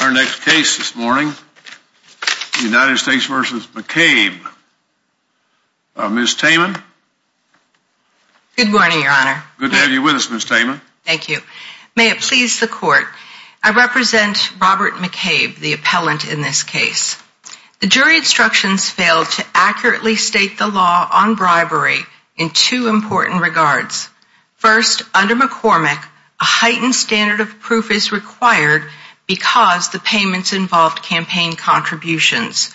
Our next case this morning, United States v. McCabe. Ms. Taman. Good morning, your honor. Good to have you with us, Ms. Taman. Thank you. May it please the court. I represent Robert McCabe, the appellant in this case. The jury instructions failed to accurately state the law on bribery in two important regards. First, under McCormick, a heightened standard of proof is required because the payments involved campaign contributions.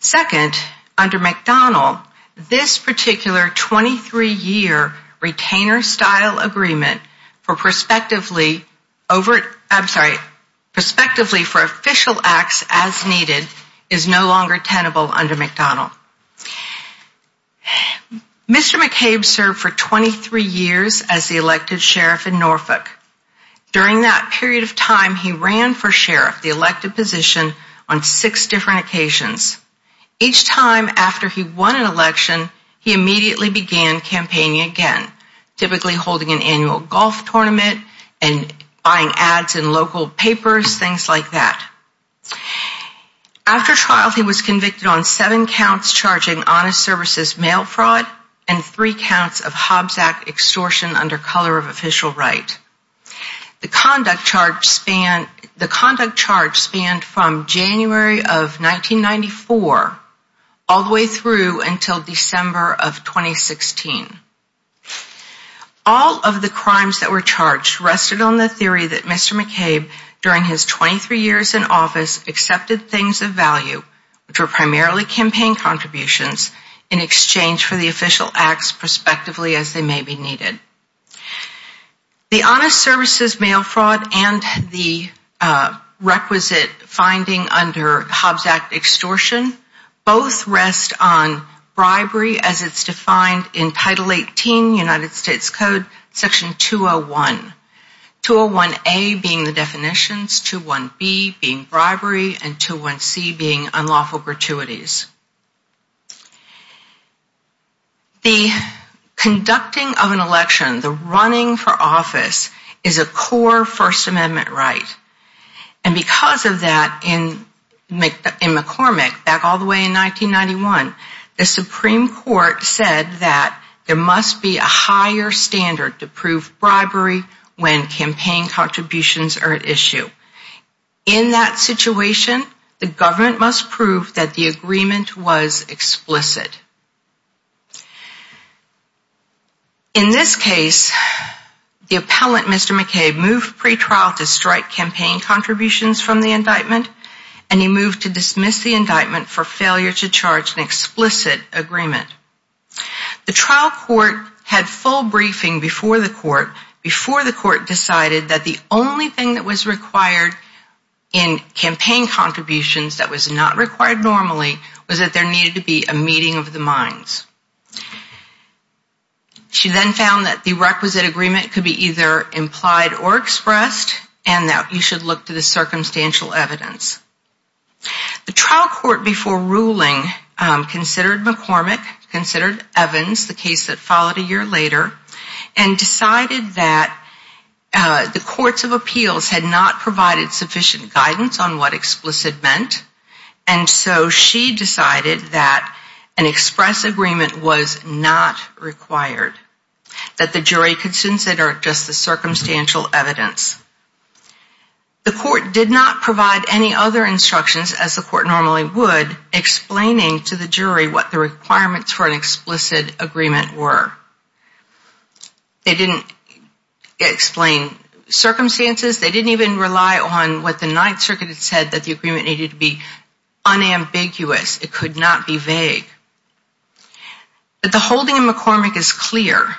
Second, under McDonnell, this particular 23-year retainer-style agreement for prospectively for official acts as needed is no longer tenable under McDonnell. Mr. McCabe served for 23 years as the elected sheriff in Norfolk. During that period of time, he ran for sheriff, the elected position, on six different occasions. Each time after he won an election, he immediately began campaigning again, typically holding an annual golf tournament and buying ads in local papers, things like that. After trial, he was convicted on seven counts charging honest services mail fraud and three counts of Hobbs Act extortion under color of official right. The conduct charge spanned from January of 1994 all the way through until December of 2016. All of the crimes that were charged rested on the theory that Mr. McCabe, during his 23 years in office, accepted things of value, which were primarily campaign contributions, in exchange for the official acts prospectively as they may be needed. The honest services mail fraud and the requisite finding under Hobbs Act extortion both rest on bribery as it's defined in Title 18 United States Code Section 201. 201A being the definitions, 201B being bribery, and 201C being unlawful gratuities. The conducting of an election, the running for office, is a core First Amendment right. And because of that, in McCormick, back all the way in 1991, the Supreme Court said that there must be a higher standard to prove bribery when campaign contributions are at issue. In that situation, the government must prove that the agreement was explicit. In this case, the appellant, Mr. McCabe, moved pretrial to strike campaign contributions from the indictment, and he moved to dismiss the indictment for failure to charge an explicit agreement. The trial court had full briefing before the court, before the court decided that the only thing that was required in campaign contributions that was not required normally was that there needed to be a meeting of the minds. She then found that the requisite agreement could be either implied or expressed, and that you should look to the circumstantial evidence. The trial court before ruling considered McCormick, considered Evans, the case that followed a year later, and decided that the courts of appeals had not provided sufficient guidance on what explicit meant, and so she decided that an express agreement was not required, that the jury could consider just the circumstantial evidence. The court did not provide any other instructions as the court normally would, explaining to the jury what the requirements for an explicit agreement were. They didn't explain circumstances, they didn't even rely on what the Ninth Circuit had said, that the agreement needed to be unambiguous, it could not be vague. The holding of McCormick is clear.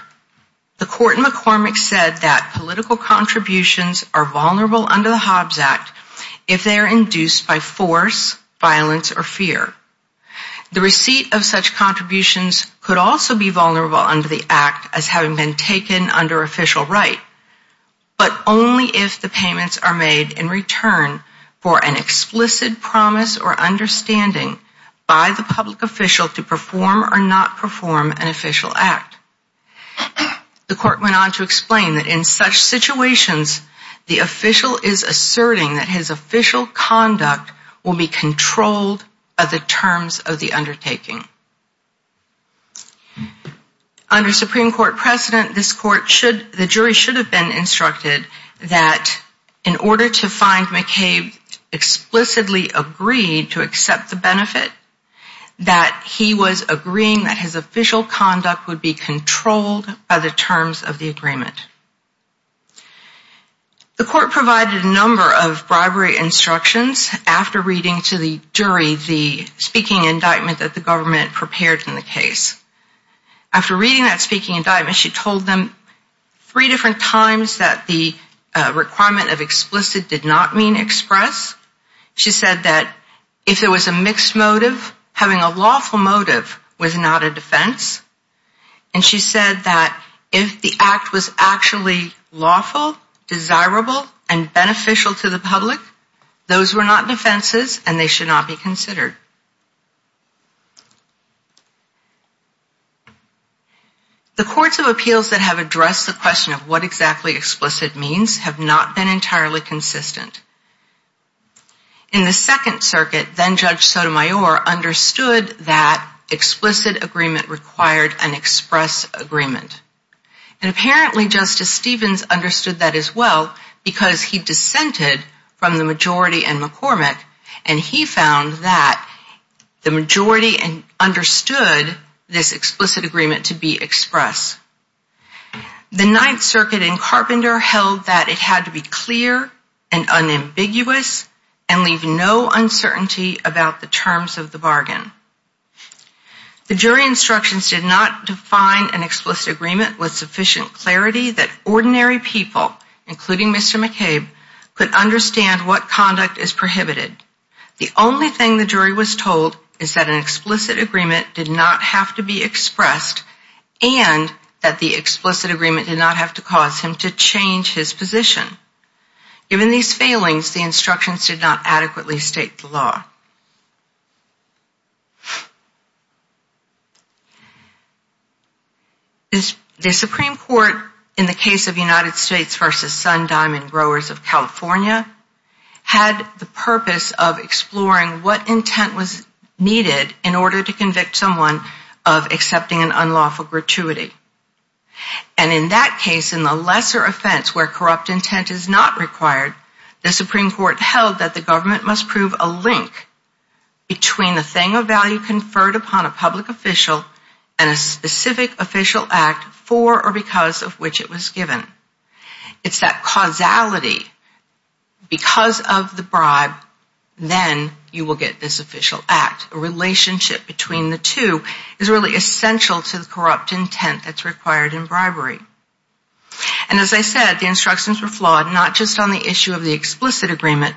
The court in McCormick said that political contributions are vulnerable under the Hobbs Act if they are induced by force, violence, or fear. The receipt of such contributions could also be vulnerable under the act as having been taken under official right, but only if the payments are made in return for an explicit promise or understanding by the public official to perform or not perform an official act. The court went on to explain that in such situations, the official is asserting that his official conduct will be controlled by the terms of the undertaking. Under Supreme Court precedent, the jury should have been instructed that in order to find McCabe explicitly agreed to accept the benefit, that he was agreeing that his official conduct would be controlled by the terms of the agreement. The court provided a number of bribery instructions after reading to the jury the speaking indictment that the government prepared in the case. After reading that speaking indictment, she told them three different times that the requirement of explicit did not mean express. She said that if it was a mixed motive, having a lawful motive was not a defense. And she said that if the act was actually lawful, desirable, and beneficial to the public, those were not defenses and they should not be considered. The courts of appeals that have addressed the question of what exactly explicit means have not been entirely consistent. In the Second Circuit, then Judge Sotomayor understood that explicit agreement required an express agreement. And apparently Justice Stevens understood that as well because he dissented from the majority in McCormick and he found that the majority understood this explicit agreement to be express. The Ninth Circuit in Carpenter held that it had to be clear and unambiguous and leave no uncertainty about the terms of the bargain. The jury instructions did not define an explicit agreement with sufficient clarity that ordinary people, including Mr. McCabe, could understand what conduct is prohibited. The only thing the jury was told is that an explicit agreement did not have to be expressed and that the explicit agreement did not have to cause him to change his position. Given these failings, the instructions did not adequately state the law. The Supreme Court, in the case of United States v. Sun Diamond Growers of California, had the purpose of exploring what intent was needed in order to convict someone of accepting an unlawful gratuity. And in that case, in the lesser offense where corrupt intent is not required, the Supreme Court held that the government must prove a link between the thing of value conferred upon a public official and a specific official act for or because of which it was given. It's that causality. Because of the bribe, then you will get this official act. A relationship between the two is really essential to the corrupt intent that's required in bribery. And as I said, the instructions were flawed, not just on the issue of the explicit agreement,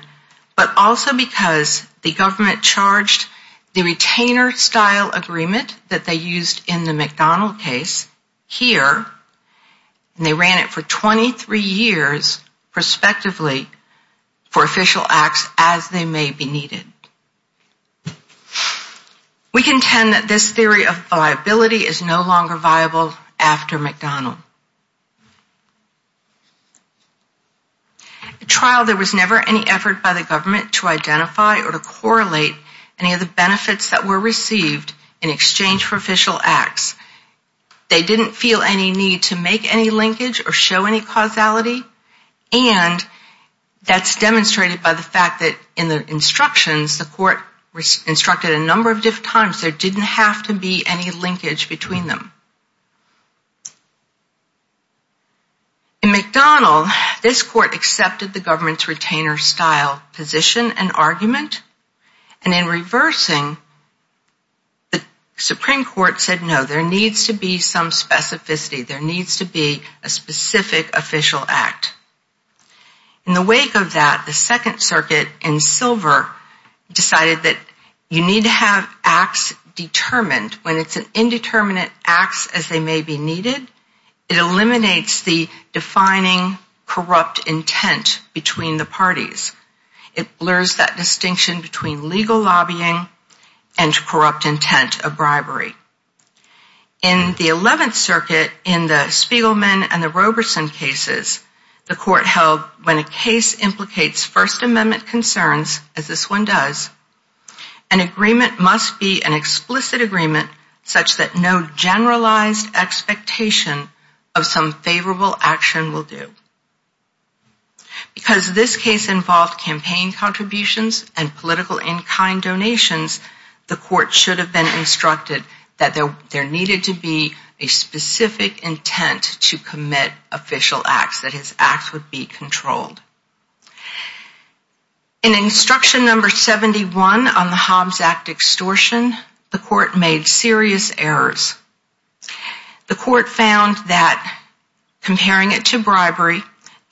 but also because the government charged the retainer-style agreement that they used in the McDonald case here, and they ran it for 23 years, prospectively, for official acts as they may be needed. We contend that this theory of viability is no longer viable after McDonald. At trial, there was never any effort by the government to identify or to correlate any of the benefits that were received in exchange for official acts. They didn't feel any need to make any linkage or show any causality, and that's demonstrated by the fact that in the instructions, the court instructed a number of times there didn't have to be any linkage between them. In McDonald, this court accepted the government's retainer-style position and argument, and in reversing, the Supreme Court said no, there needs to be some specificity, there needs to be a specific official act. In the wake of that, the Second Circuit in Silver decided that you need to have acts determined. When it's an indeterminate acts as they may be needed, it eliminates the defining corrupt intent between the parties. It blurs that distinction between legal lobbying and corrupt intent of bribery. In the Eleventh Circuit, in the Spiegelman and the Roberson cases, the court held when a case implicates First Amendment concerns, as this one does, an agreement must be an explicit agreement such that no generalized expectation of some favorable action will do. Because this case involved campaign contributions and political in-kind donations, the court should have been instructed that there needed to be a specific intent to commit official acts, that his acts would be controlled. In instruction number 71 on the Hobbs Act extortion, the court made serious errors. The court found that comparing it to bribery,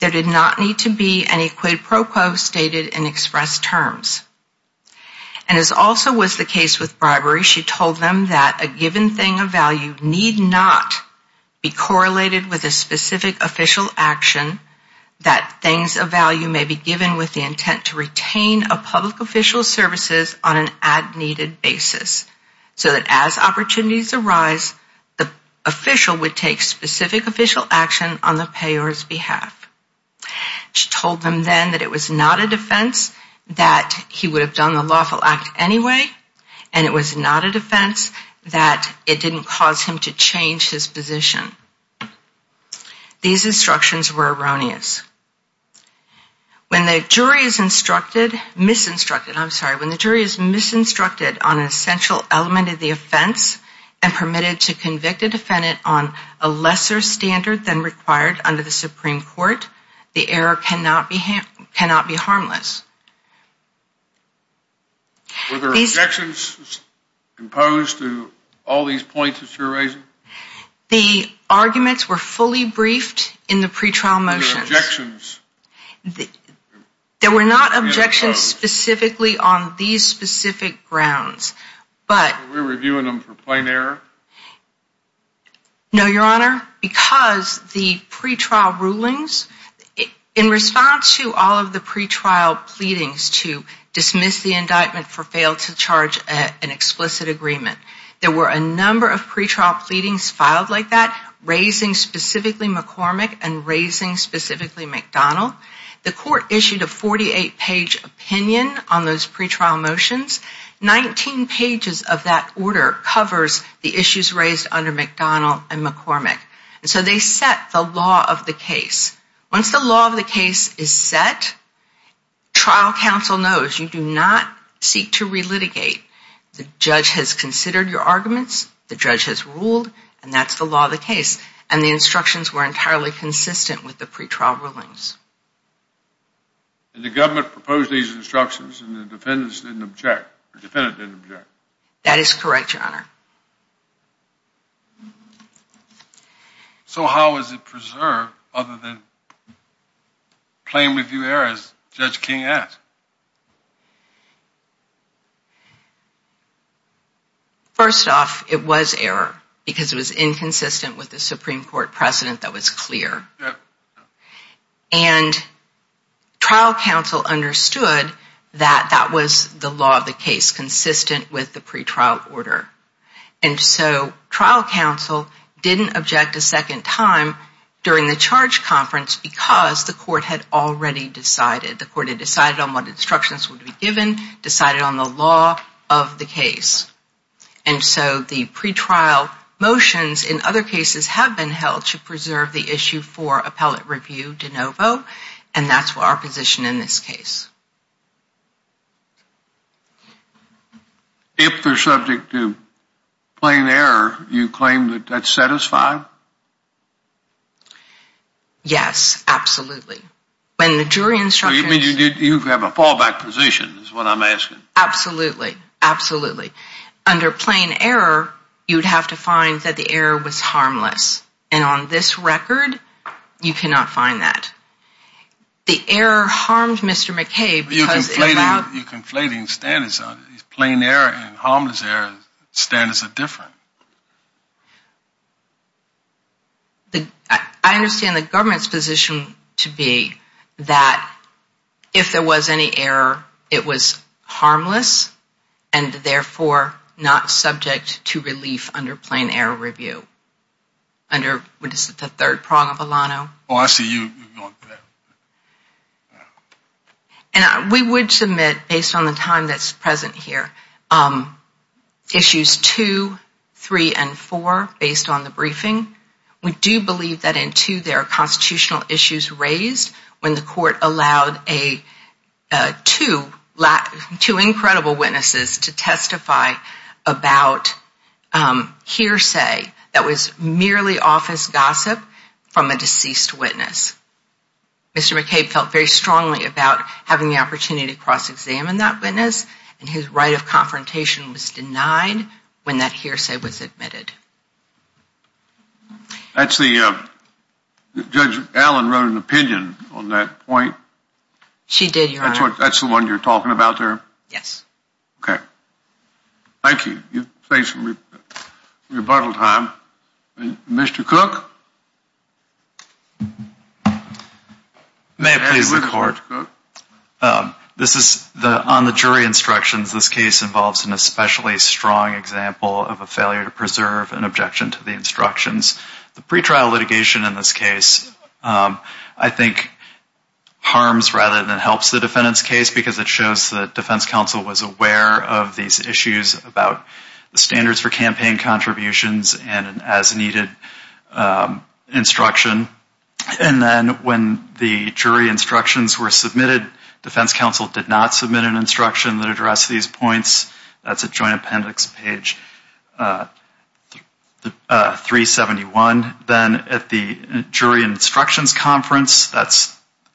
there did not need to be any quid pro quo stated in express terms. And as also was the case with bribery, she told them that a given thing of value need not be correlated with a specific official action, that things of value may be given with the intent to retain a public official's services on an ad-needed basis. So that as opportunities arise, the official would take specific official action on the payer's behalf. She told them then that it was not a defense that he would have done the lawful act anyway, and it was not a defense that it didn't cause him to change his position. These instructions were erroneous. When the jury is instructed, misinstructed, I'm sorry, when the jury is misinstructed on an essential element of the offense and permitted to convict a defendant on a lesser standard than required under the Supreme Court, the error cannot be harmless. Were there objections imposed to all these points that you're raising? The arguments were fully briefed in the pretrial motions. Were there objections? There were not objections specifically on these specific grounds. Were we reviewing them for plain error? No, Your Honor, because the pretrial rulings, in response to all of the pretrial pleadings to dismiss the indictment for fail to charge an explicit agreement, there were a number of pretrial pleadings filed like that, raising specifically McCormick and raising specifically McDonnell. The court issued a 48-page opinion on those pretrial motions. Nineteen pages of that order covers the issues raised under McDonnell and McCormick. So they set the law of the case. Once the law of the case is set, trial counsel knows you do not seek to relitigate. The judge has considered your arguments, the judge has ruled, and that's the law of the case. And the instructions were entirely consistent with the pretrial rulings. And the government proposed these instructions and the defendant didn't object? That is correct, Your Honor. So how is it preserved other than plain review errors, Judge King asked? First off, it was error because it was inconsistent with the Supreme Court precedent that was clear. And trial counsel understood that that was the law of the case, consistent with the pretrial order. And so trial counsel didn't object a second time during the charge conference because the court had already decided. The court had decided on what instructions would be given, decided on the law of the case. And so the pretrial motions in other cases have been held to preserve the issue for appellate review de novo, and that's our position in this case. If they're subject to plain error, you claim that that's satisfied? Yes, absolutely. You have a fallback position is what I'm asking. Absolutely, absolutely. Under plain error, you'd have to find that the error was harmless. And on this record, you cannot find that. The error harmed Mr. McKay because it allowed You're conflating standards. Plain error and harmless error standards are different. I understand the government's position to be that if there was any error, it was harmless, and therefore not subject to relief under plain error review. Under the third prong of Alano. Oh, I see you. We would submit, based on the time that's present here, issues two, three, and four based on the briefing. We do believe that in two there are constitutional issues raised when the court allowed two incredible witnesses to testify about hearsay that was merely office gossip from a deceased witness. Mr. McKay felt very strongly about having the opportunity to cross-examine that witness, and his right of confrontation was denied when that hearsay was admitted. Judge Allen wrote an opinion on that point. She did, Your Honor. That's the one you're talking about there? Yes. Okay. Thank you. Thanks for your rebuttal time. Mr. Cook? May I please report? On the jury instructions, this case involves an especially strong example of a failure to preserve an objection to the instructions. The pretrial litigation in this case, I think, harms rather than helps the defendant's case because it shows that defense counsel was aware of these issues about the standards for campaign contributions and an as-needed instruction. And then when the jury instructions were submitted, defense counsel did not submit an instruction that addressed these points. That's at Joint Appendix page 371. Then at the jury instructions conference, that's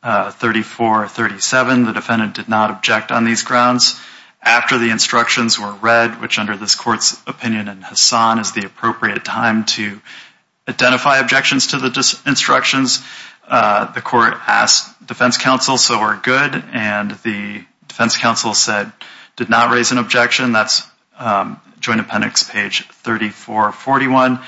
3437, the defendant did not object on these grounds. After the instructions were read, which under this court's opinion in Hassan is the appropriate time to identify objections to the instructions, the court asked defense counsel, so we're good, and the defense counsel said, did not raise an objection. That's Joint Appendix page 3441.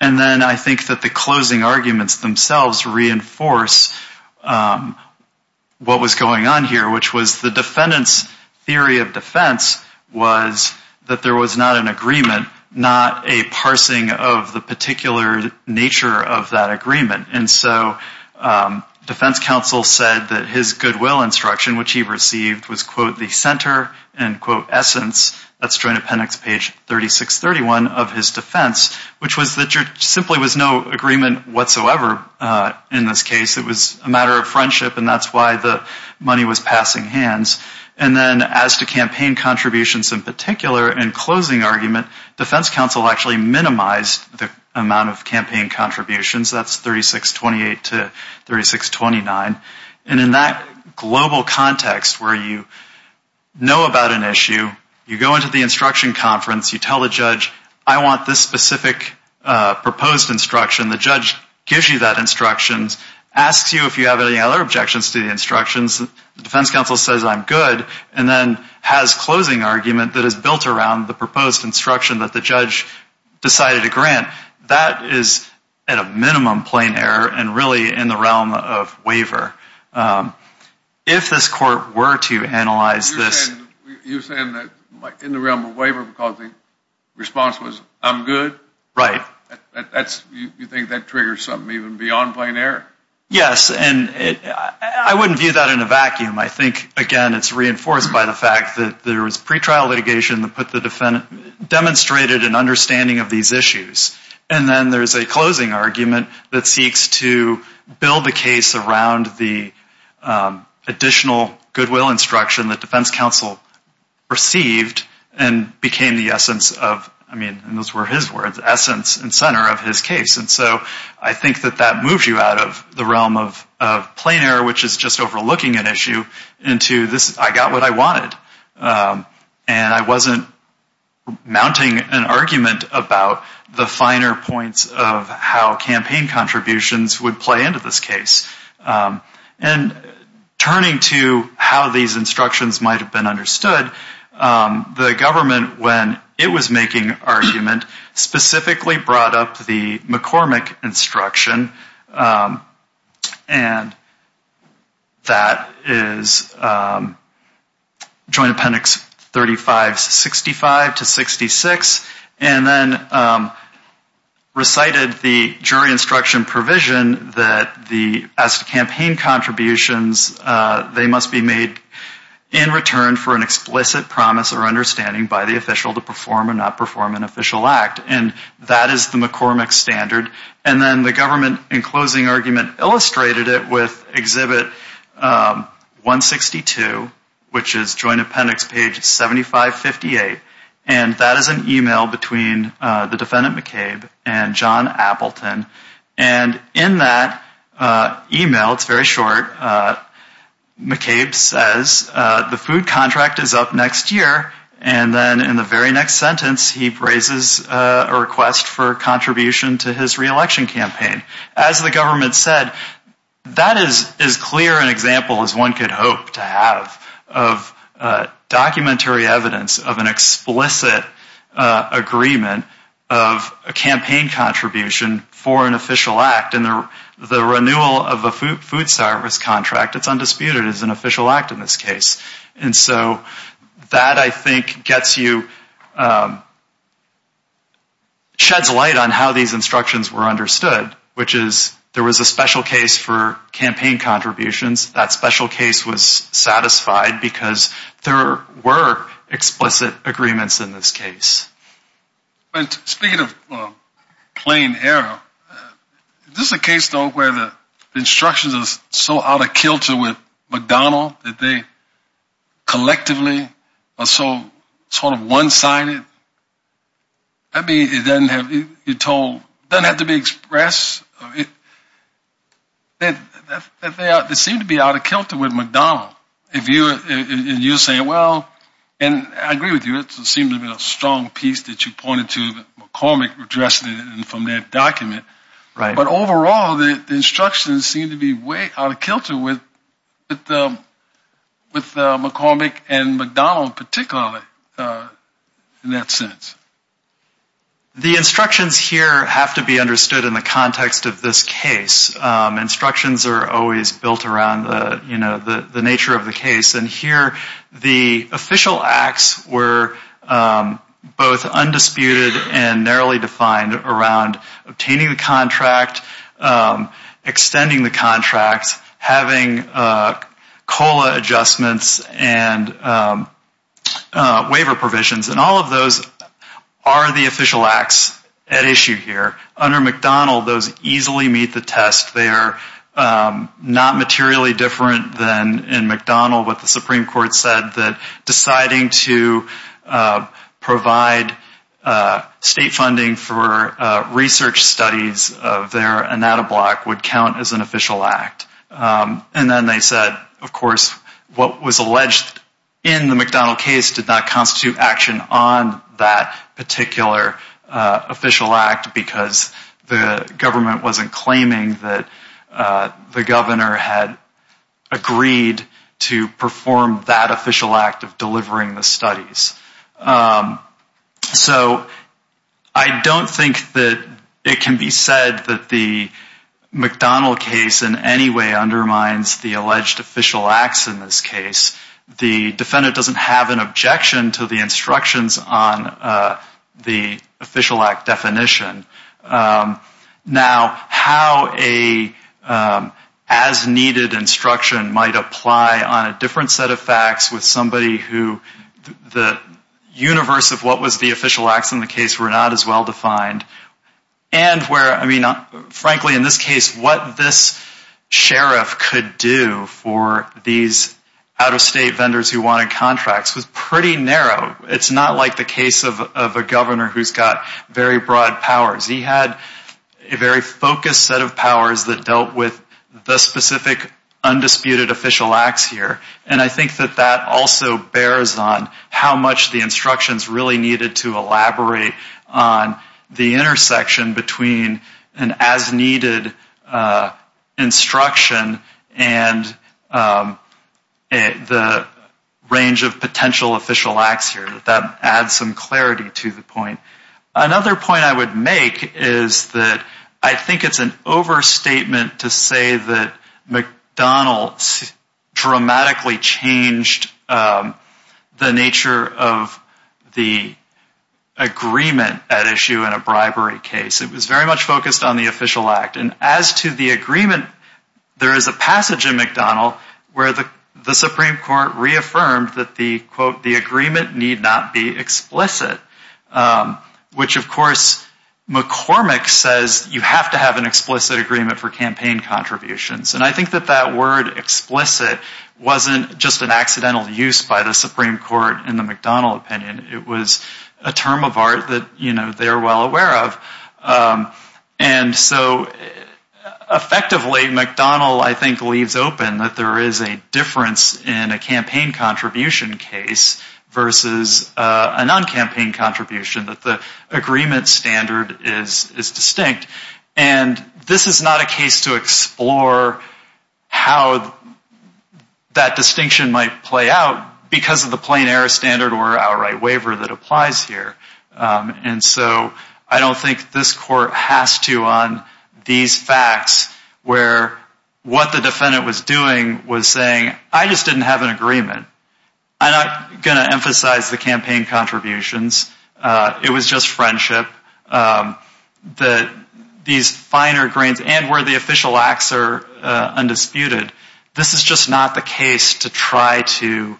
And then I think that the closing arguments themselves reinforce what was going on here, which was the defendant's theory of defense was that there was not an agreement, not a parsing of the particular nature of that agreement. And so defense counsel said that his goodwill instruction, which he received, was, quote, the center and, quote, essence, that's Joint Appendix page 3631 of his defense, which was that there simply was no agreement whatsoever in this case. It was a matter of friendship, and that's why the money was passing hands. And then as to campaign contributions in particular, in closing argument, defense counsel actually minimized the amount of campaign contributions. That's 3628 to 3629. And in that global context where you know about an issue, you go into the instruction conference, you tell the judge, I want this specific proposed instruction. The judge gives you that instruction, asks you if you have any other objections to the instructions. The defense counsel says, I'm good, and then has closing argument that is built around the proposed instruction that the judge decided to grant. That is at a minimum plain error and really in the realm of waiver. If this court were to analyze this. You're saying that in the realm of waiver because the response was, I'm good? Right. You think that triggers something even beyond plain error? Yes, and I wouldn't view that in a vacuum. I think, again, it's reinforced by the fact that there was pretrial litigation that demonstrated an understanding of these issues. And then there's a closing argument that seeks to build a case around the additional goodwill instruction that defense counsel received and became the essence of, I mean, those were his words, essence and center of his case. And so I think that that moves you out of the realm of plain error, which is just overlooking an issue, into this, I got what I wanted. And I wasn't mounting an argument about the finer points of how campaign contributions would play into this case. And turning to how these instructions might have been understood, the government, when it was making argument, specifically brought up the McCormick instruction. And that is Joint Appendix 3565 to 66, and then recited the jury instruction provision that as to campaign contributions, they must be made in return for an explicit promise or understanding by the official to perform or not perform an official act. And that is the McCormick standard. And then the government, in closing argument, illustrated it with Exhibit 162, which is Joint Appendix page 7558. And that is an email between the defendant McCabe and John Appleton. And in that email, it's very short, McCabe says, the food contract is up next year. And then in the very next sentence, he raises a request for contribution to his reelection campaign. As the government said, that is as clear an example as one could hope to have of documentary evidence of an explicit agreement of a campaign contribution for an official act. And the renewal of a food service contract, it's undisputed, is an official act in this case. And so that, I think, gets you, sheds light on how these instructions were understood, which is there was a special case for campaign contributions. That special case was satisfied because there were explicit agreements in this case. But speaking of plain error, is this a case, though, where the instructions are so out of kilter with McDonnell that they collectively are so sort of one-sided? That means it doesn't have to be expressed. They seem to be out of kilter with McDonnell. And you're saying, well, and I agree with you. It seems to be a strong piece that you pointed to that McCormick addressed from that document. But overall, the instructions seem to be way out of kilter with McCormick and McDonnell particularly in that sense. The instructions here have to be understood in the context of this case. Instructions are always built around the nature of the case. And here the official acts were both undisputed and narrowly defined around obtaining the contract, extending the contract, having COLA adjustments and waiver provisions. And all of those are the official acts at issue here. Under McDonnell, those easily meet the test. They are not materially different than in McDonnell, what the Supreme Court said, that deciding to provide state funding for research studies of their ANATA block would count as an official act. And then they said, of course, what was alleged in the McDonnell case did not constitute action on that particular official act because the government wasn't claiming that the governor had agreed to perform that official act of delivering the studies. So I don't think that it can be said that the McDonnell case in any way undermines the alleged official acts in this case. The defendant doesn't have an objection to the instructions on the official act definition. Now, how a as-needed instruction might apply on a different set of facts with somebody who the universe of what was the official acts in the case were not as well-defined, and frankly, in this case, what this sheriff could do for these out-of-state vendors who wanted contracts was pretty narrow. It's not like the case of a governor who's got very broad powers. He had a very focused set of powers that dealt with the specific undisputed official acts here. And I think that that also bears on how much the instructions really needed to elaborate on the intersection between an as-needed instruction and the range of potential official acts here. That adds some clarity to the point. Another point I would make is that I think it's an overstatement to say that McDonnell dramatically changed the nature of the agreement at issue in a bribery case. It was very much focused on the official act. And as to the agreement, there is a passage in McDonnell where the Supreme Court reaffirmed that the, quote, the agreement need not be explicit, which, of course, McCormick says you have to have an explicit agreement for campaign contributions. And I think that that word explicit wasn't just an accidental use by the Supreme Court in the McDonnell opinion. It was a term of art that, you know, they are well aware of. And so effectively, McDonnell, I think, leaves open that there is a difference in a campaign contribution case versus a non-campaign contribution, that the agreement standard is distinct. And this is not a case to explore how that distinction might play out because of the plain error standard or outright waiver that applies here. And so I don't think this court has to on these facts where what the defendant was doing was saying, I just didn't have an agreement. I'm not going to emphasize the campaign contributions. It was just friendship. These finer grains and where the official acts are undisputed, this is just not the case to try to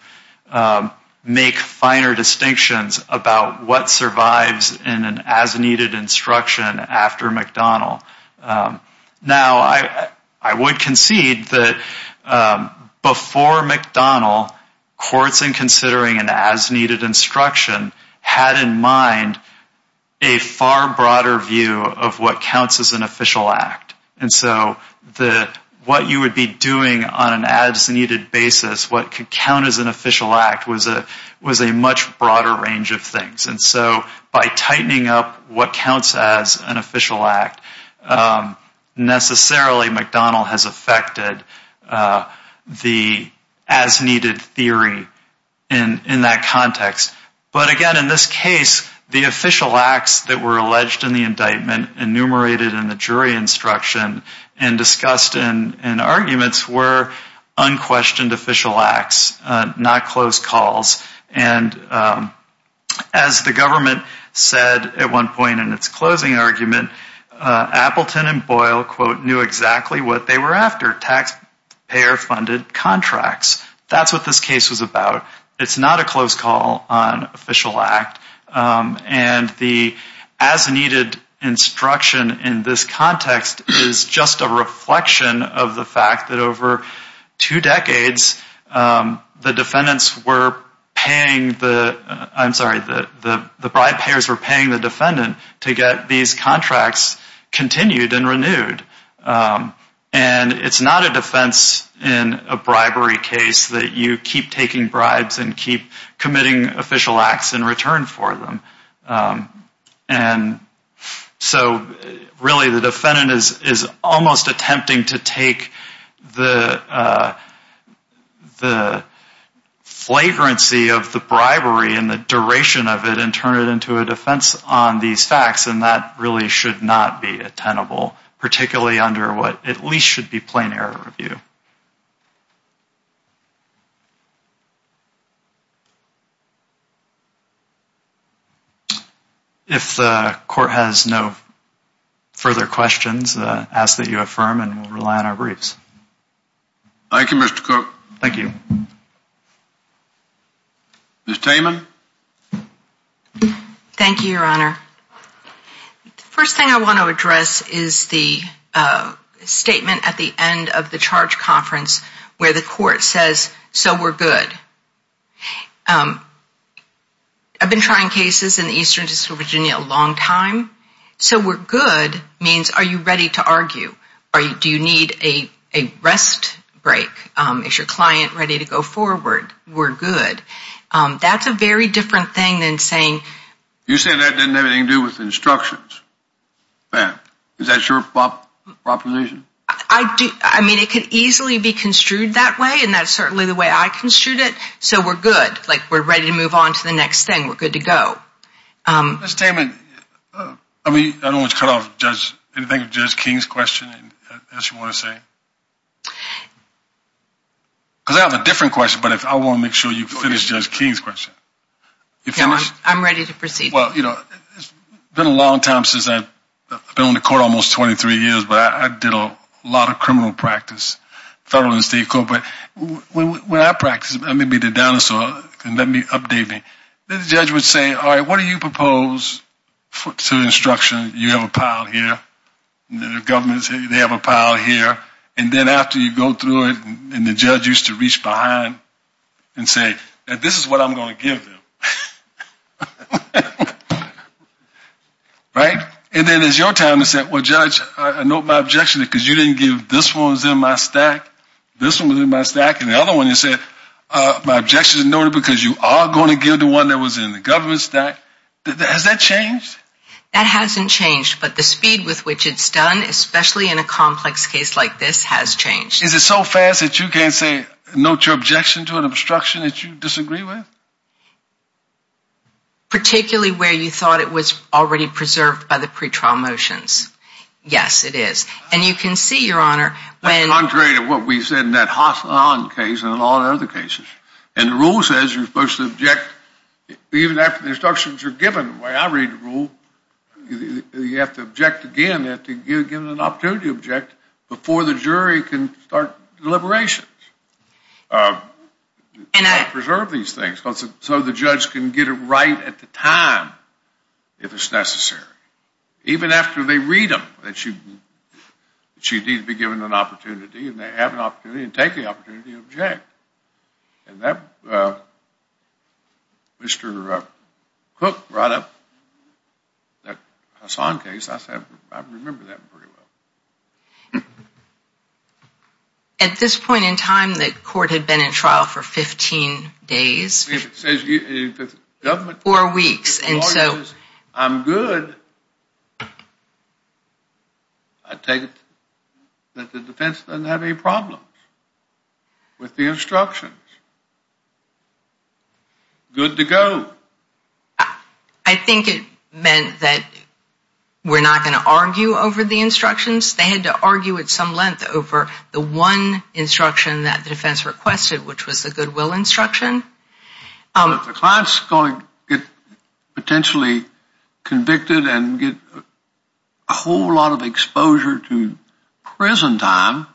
make finer distinctions about what survives in an as-needed instruction after McDonnell. Now, I would concede that before McDonnell, courts in considering an as-needed instruction had in mind a far broader view of what counts as an official act. And so what you would be doing on an as-needed basis, what could count as an official act, was a much broader range of things. And so by tightening up what counts as an official act, necessarily McDonnell has affected the as-needed theory in that context. But again, in this case, the official acts that were alleged in the indictment, enumerated in the jury instruction, and discussed in arguments were unquestioned official acts, not close calls. And as the government said at one point in its closing argument, Appleton and Boyle, quote, knew exactly what they were after, taxpayer-funded contracts. That's what this case was about. It's not a close call on official act. And the as-needed instruction in this context is just a reflection of the fact that over two decades, the defendants were paying the, I'm sorry, the bribe payers were paying the defendant to get these contracts continued and renewed. And it's not a defense in a bribery case that you keep taking bribes and keep committing official acts in return for them. And so really the defendant is almost attempting to take the flagrancy of the bribery and the duration of it and turn it into a defense on these facts, and that really should not be attenable, particularly under what at least should be plain error review. If the court has no further questions, ask that you affirm, and we'll rely on our briefs. Thank you, Mr. Cook. Thank you. Ms. Taiman. Thank you, Your Honor. The first thing I want to address is the statement at the end of the charge conference where the court says, so we're good. I've been trying cases in the Eastern District of Virginia a long time, so we're good means are you ready to argue? Do you need a rest break? Is your client ready to go forward? We're good. That's a very different thing than saying. You said that didn't have anything to do with instructions. Is that your proposition? I mean, it could easily be construed that way, and that's certainly the way I construed it, so we're good. Like, we're ready to move on to the next thing. We're good to go. Ms. Taiman, I don't want to cut off anything of Judge King's question, as you want to say, because I have a different question, but I want to make sure you finish Judge King's question. I'm ready to proceed. Well, you know, it's been a long time since I've been on the court, almost 23 years, but I did a lot of criminal practice, federal and state court. But when I practice, I may be the dinosaur. Let me update me. The judge would say, all right, what do you propose to the instruction? You have a pile here. The government, they have a pile here. And then after you go through it, and the judge used to reach behind and say, this is what I'm going to give them, right? And then it's your time to say, well, Judge, I note my objection because you didn't give this one was in my stack, this one was in my stack, and the other one you said, my objection is noted because you are going to give the one that was in the government stack. Has that changed? That hasn't changed. But the speed with which it's done, especially in a complex case like this, has changed. Is it so fast that you can't say, note your objection to an obstruction that you disagree with? Particularly where you thought it was already preserved by the pretrial motions. Yes, it is. And you can see, Your Honor. Contrary to what we said in that Hassan case and a lot of other cases. And the rule says you're supposed to object even after the instructions are given. The way I read the rule, you have to object again. You have to give an opportunity to object before the jury can start deliberations. Preserve these things so the judge can get it right at the time if it's necessary. Even after they read them, that you need to be given an opportunity and they have an opportunity and take the opportunity to object. And Mr. Cook brought up that Hassan case. I remember that pretty well. At this point in time, the court had been in trial for 15 days. Four weeks. I'm good. I take it that the defense doesn't have any problems with the instructions. Good to go. I think it meant that we're not going to argue over the instructions. They had to argue at some length over the one instruction that the defense requested, which was the goodwill instruction. But if the client's going to get potentially convicted and get a whole lot of exposure to prison time,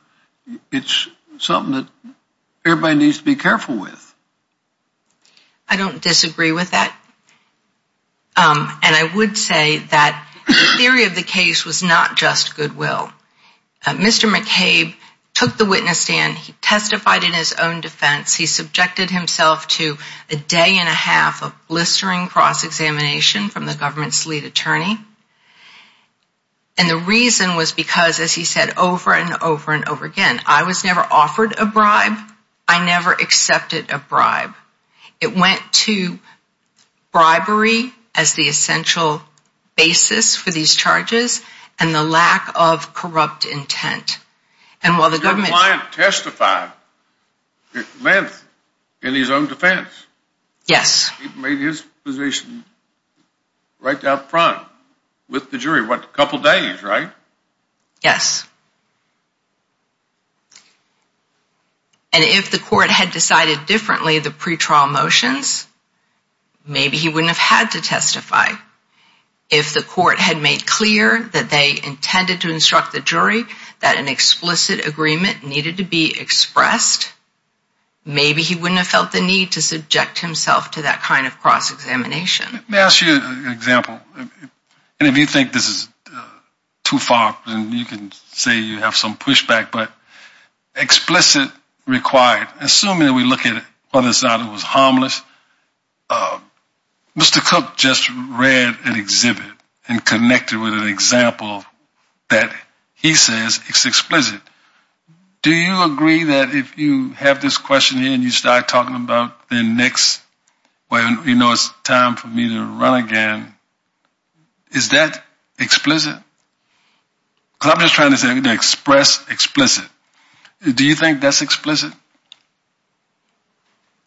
it's something that everybody needs to be careful with. I don't disagree with that. And I would say that the theory of the case was not just goodwill. Mr. McCabe took the witness stand. He testified in his own defense. He subjected himself to a day and a half of blistering cross-examination from the government's lead attorney. And the reason was because, as he said over and over and over again, I was never offered a bribe. I never accepted a bribe. It went to bribery as the essential basis for these charges and the lack of corrupt intent. Your client testified. It meant in his own defense. Yes. He made his position right out front with the jury. It went a couple days, right? Yes. And if the court had decided differently the pretrial motions, maybe he wouldn't have had to testify. If the court had made clear that they intended to instruct the jury that an explicit agreement needed to be expressed, maybe he wouldn't have felt the need to subject himself to that kind of cross-examination. May I ask you an example? And if you think this is too far, then you can say you have some pushback. But explicit required. Assuming we look at it, whether or not it was harmless. Mr. Cook just read an exhibit and connected with an example that he says is explicit. Do you agree that if you have this question here and you start talking about the next time for me to run again, is that explicit? Because I'm just trying to say express explicit. Do you think that's explicit?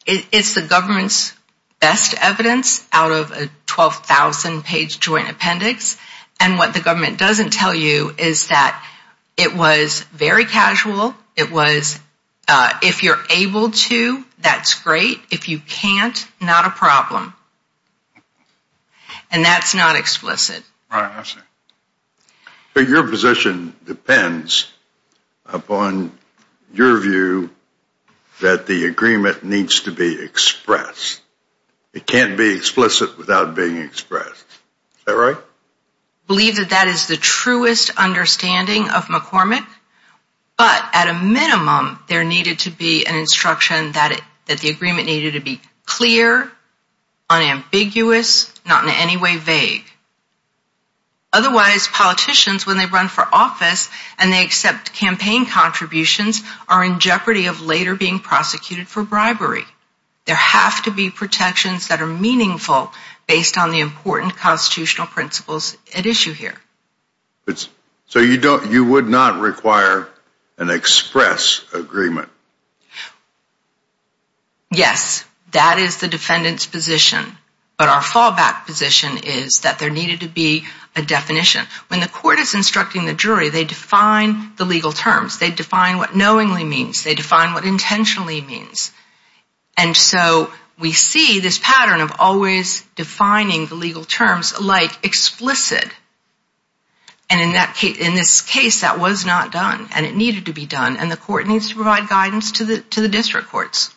It's the government's best evidence out of a 12,000-page joint appendix. And what the government doesn't tell you is that it was very casual. It was if you're able to, that's great. If you can't, not a problem. And that's not explicit. Right, I see. But your position depends upon your view that the agreement needs to be expressed. It can't be explicit without being expressed. Is that right? I believe that that is the truest understanding of McCormick. But at a minimum, there needed to be an instruction that the agreement needed to be clear, unambiguous, not in any way vague. Otherwise, politicians, when they run for office and they accept campaign contributions, are in jeopardy of later being prosecuted for bribery. There have to be protections that are meaningful based on the important constitutional principles at issue here. So you would not require an express agreement? Yes, that is the defendant's position. But our fallback position is that there needed to be a definition. When the court is instructing the jury, they define the legal terms. They define what knowingly means. They define what intentionally means. And so we see this pattern of always defining the legal terms like explicit. And in this case, that was not done. And it needed to be done. And the court needs to provide guidance to the district courts.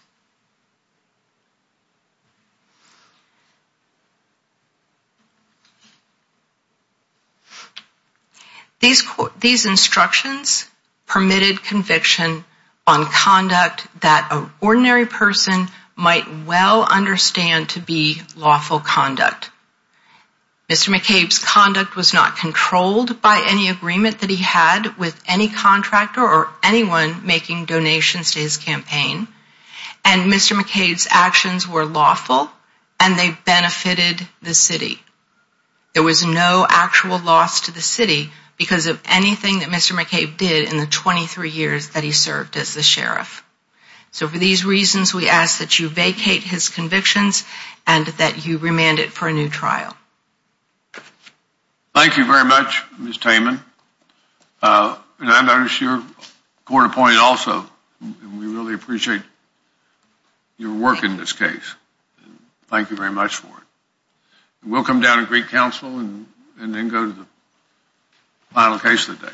These instructions permitted conviction on conduct that an ordinary person might well understand to be lawful conduct. Mr. McCabe's conduct was not controlled by any agreement that he had with any contractor or anyone making donations to his campaign. And Mr. McCabe's actions were lawful and they benefited the city. There was no actual loss to the city because of anything that Mr. McCabe did in the 23 years that he served as the sheriff. So for these reasons, we ask that you vacate his convictions and that you remand it for a new trial. Thank you very much, Ms. Taiman. And I notice you're court appointed also. We really appreciate your work in this case. Thank you very much for it. We'll come down to Greek Council and then go to the final case of the day.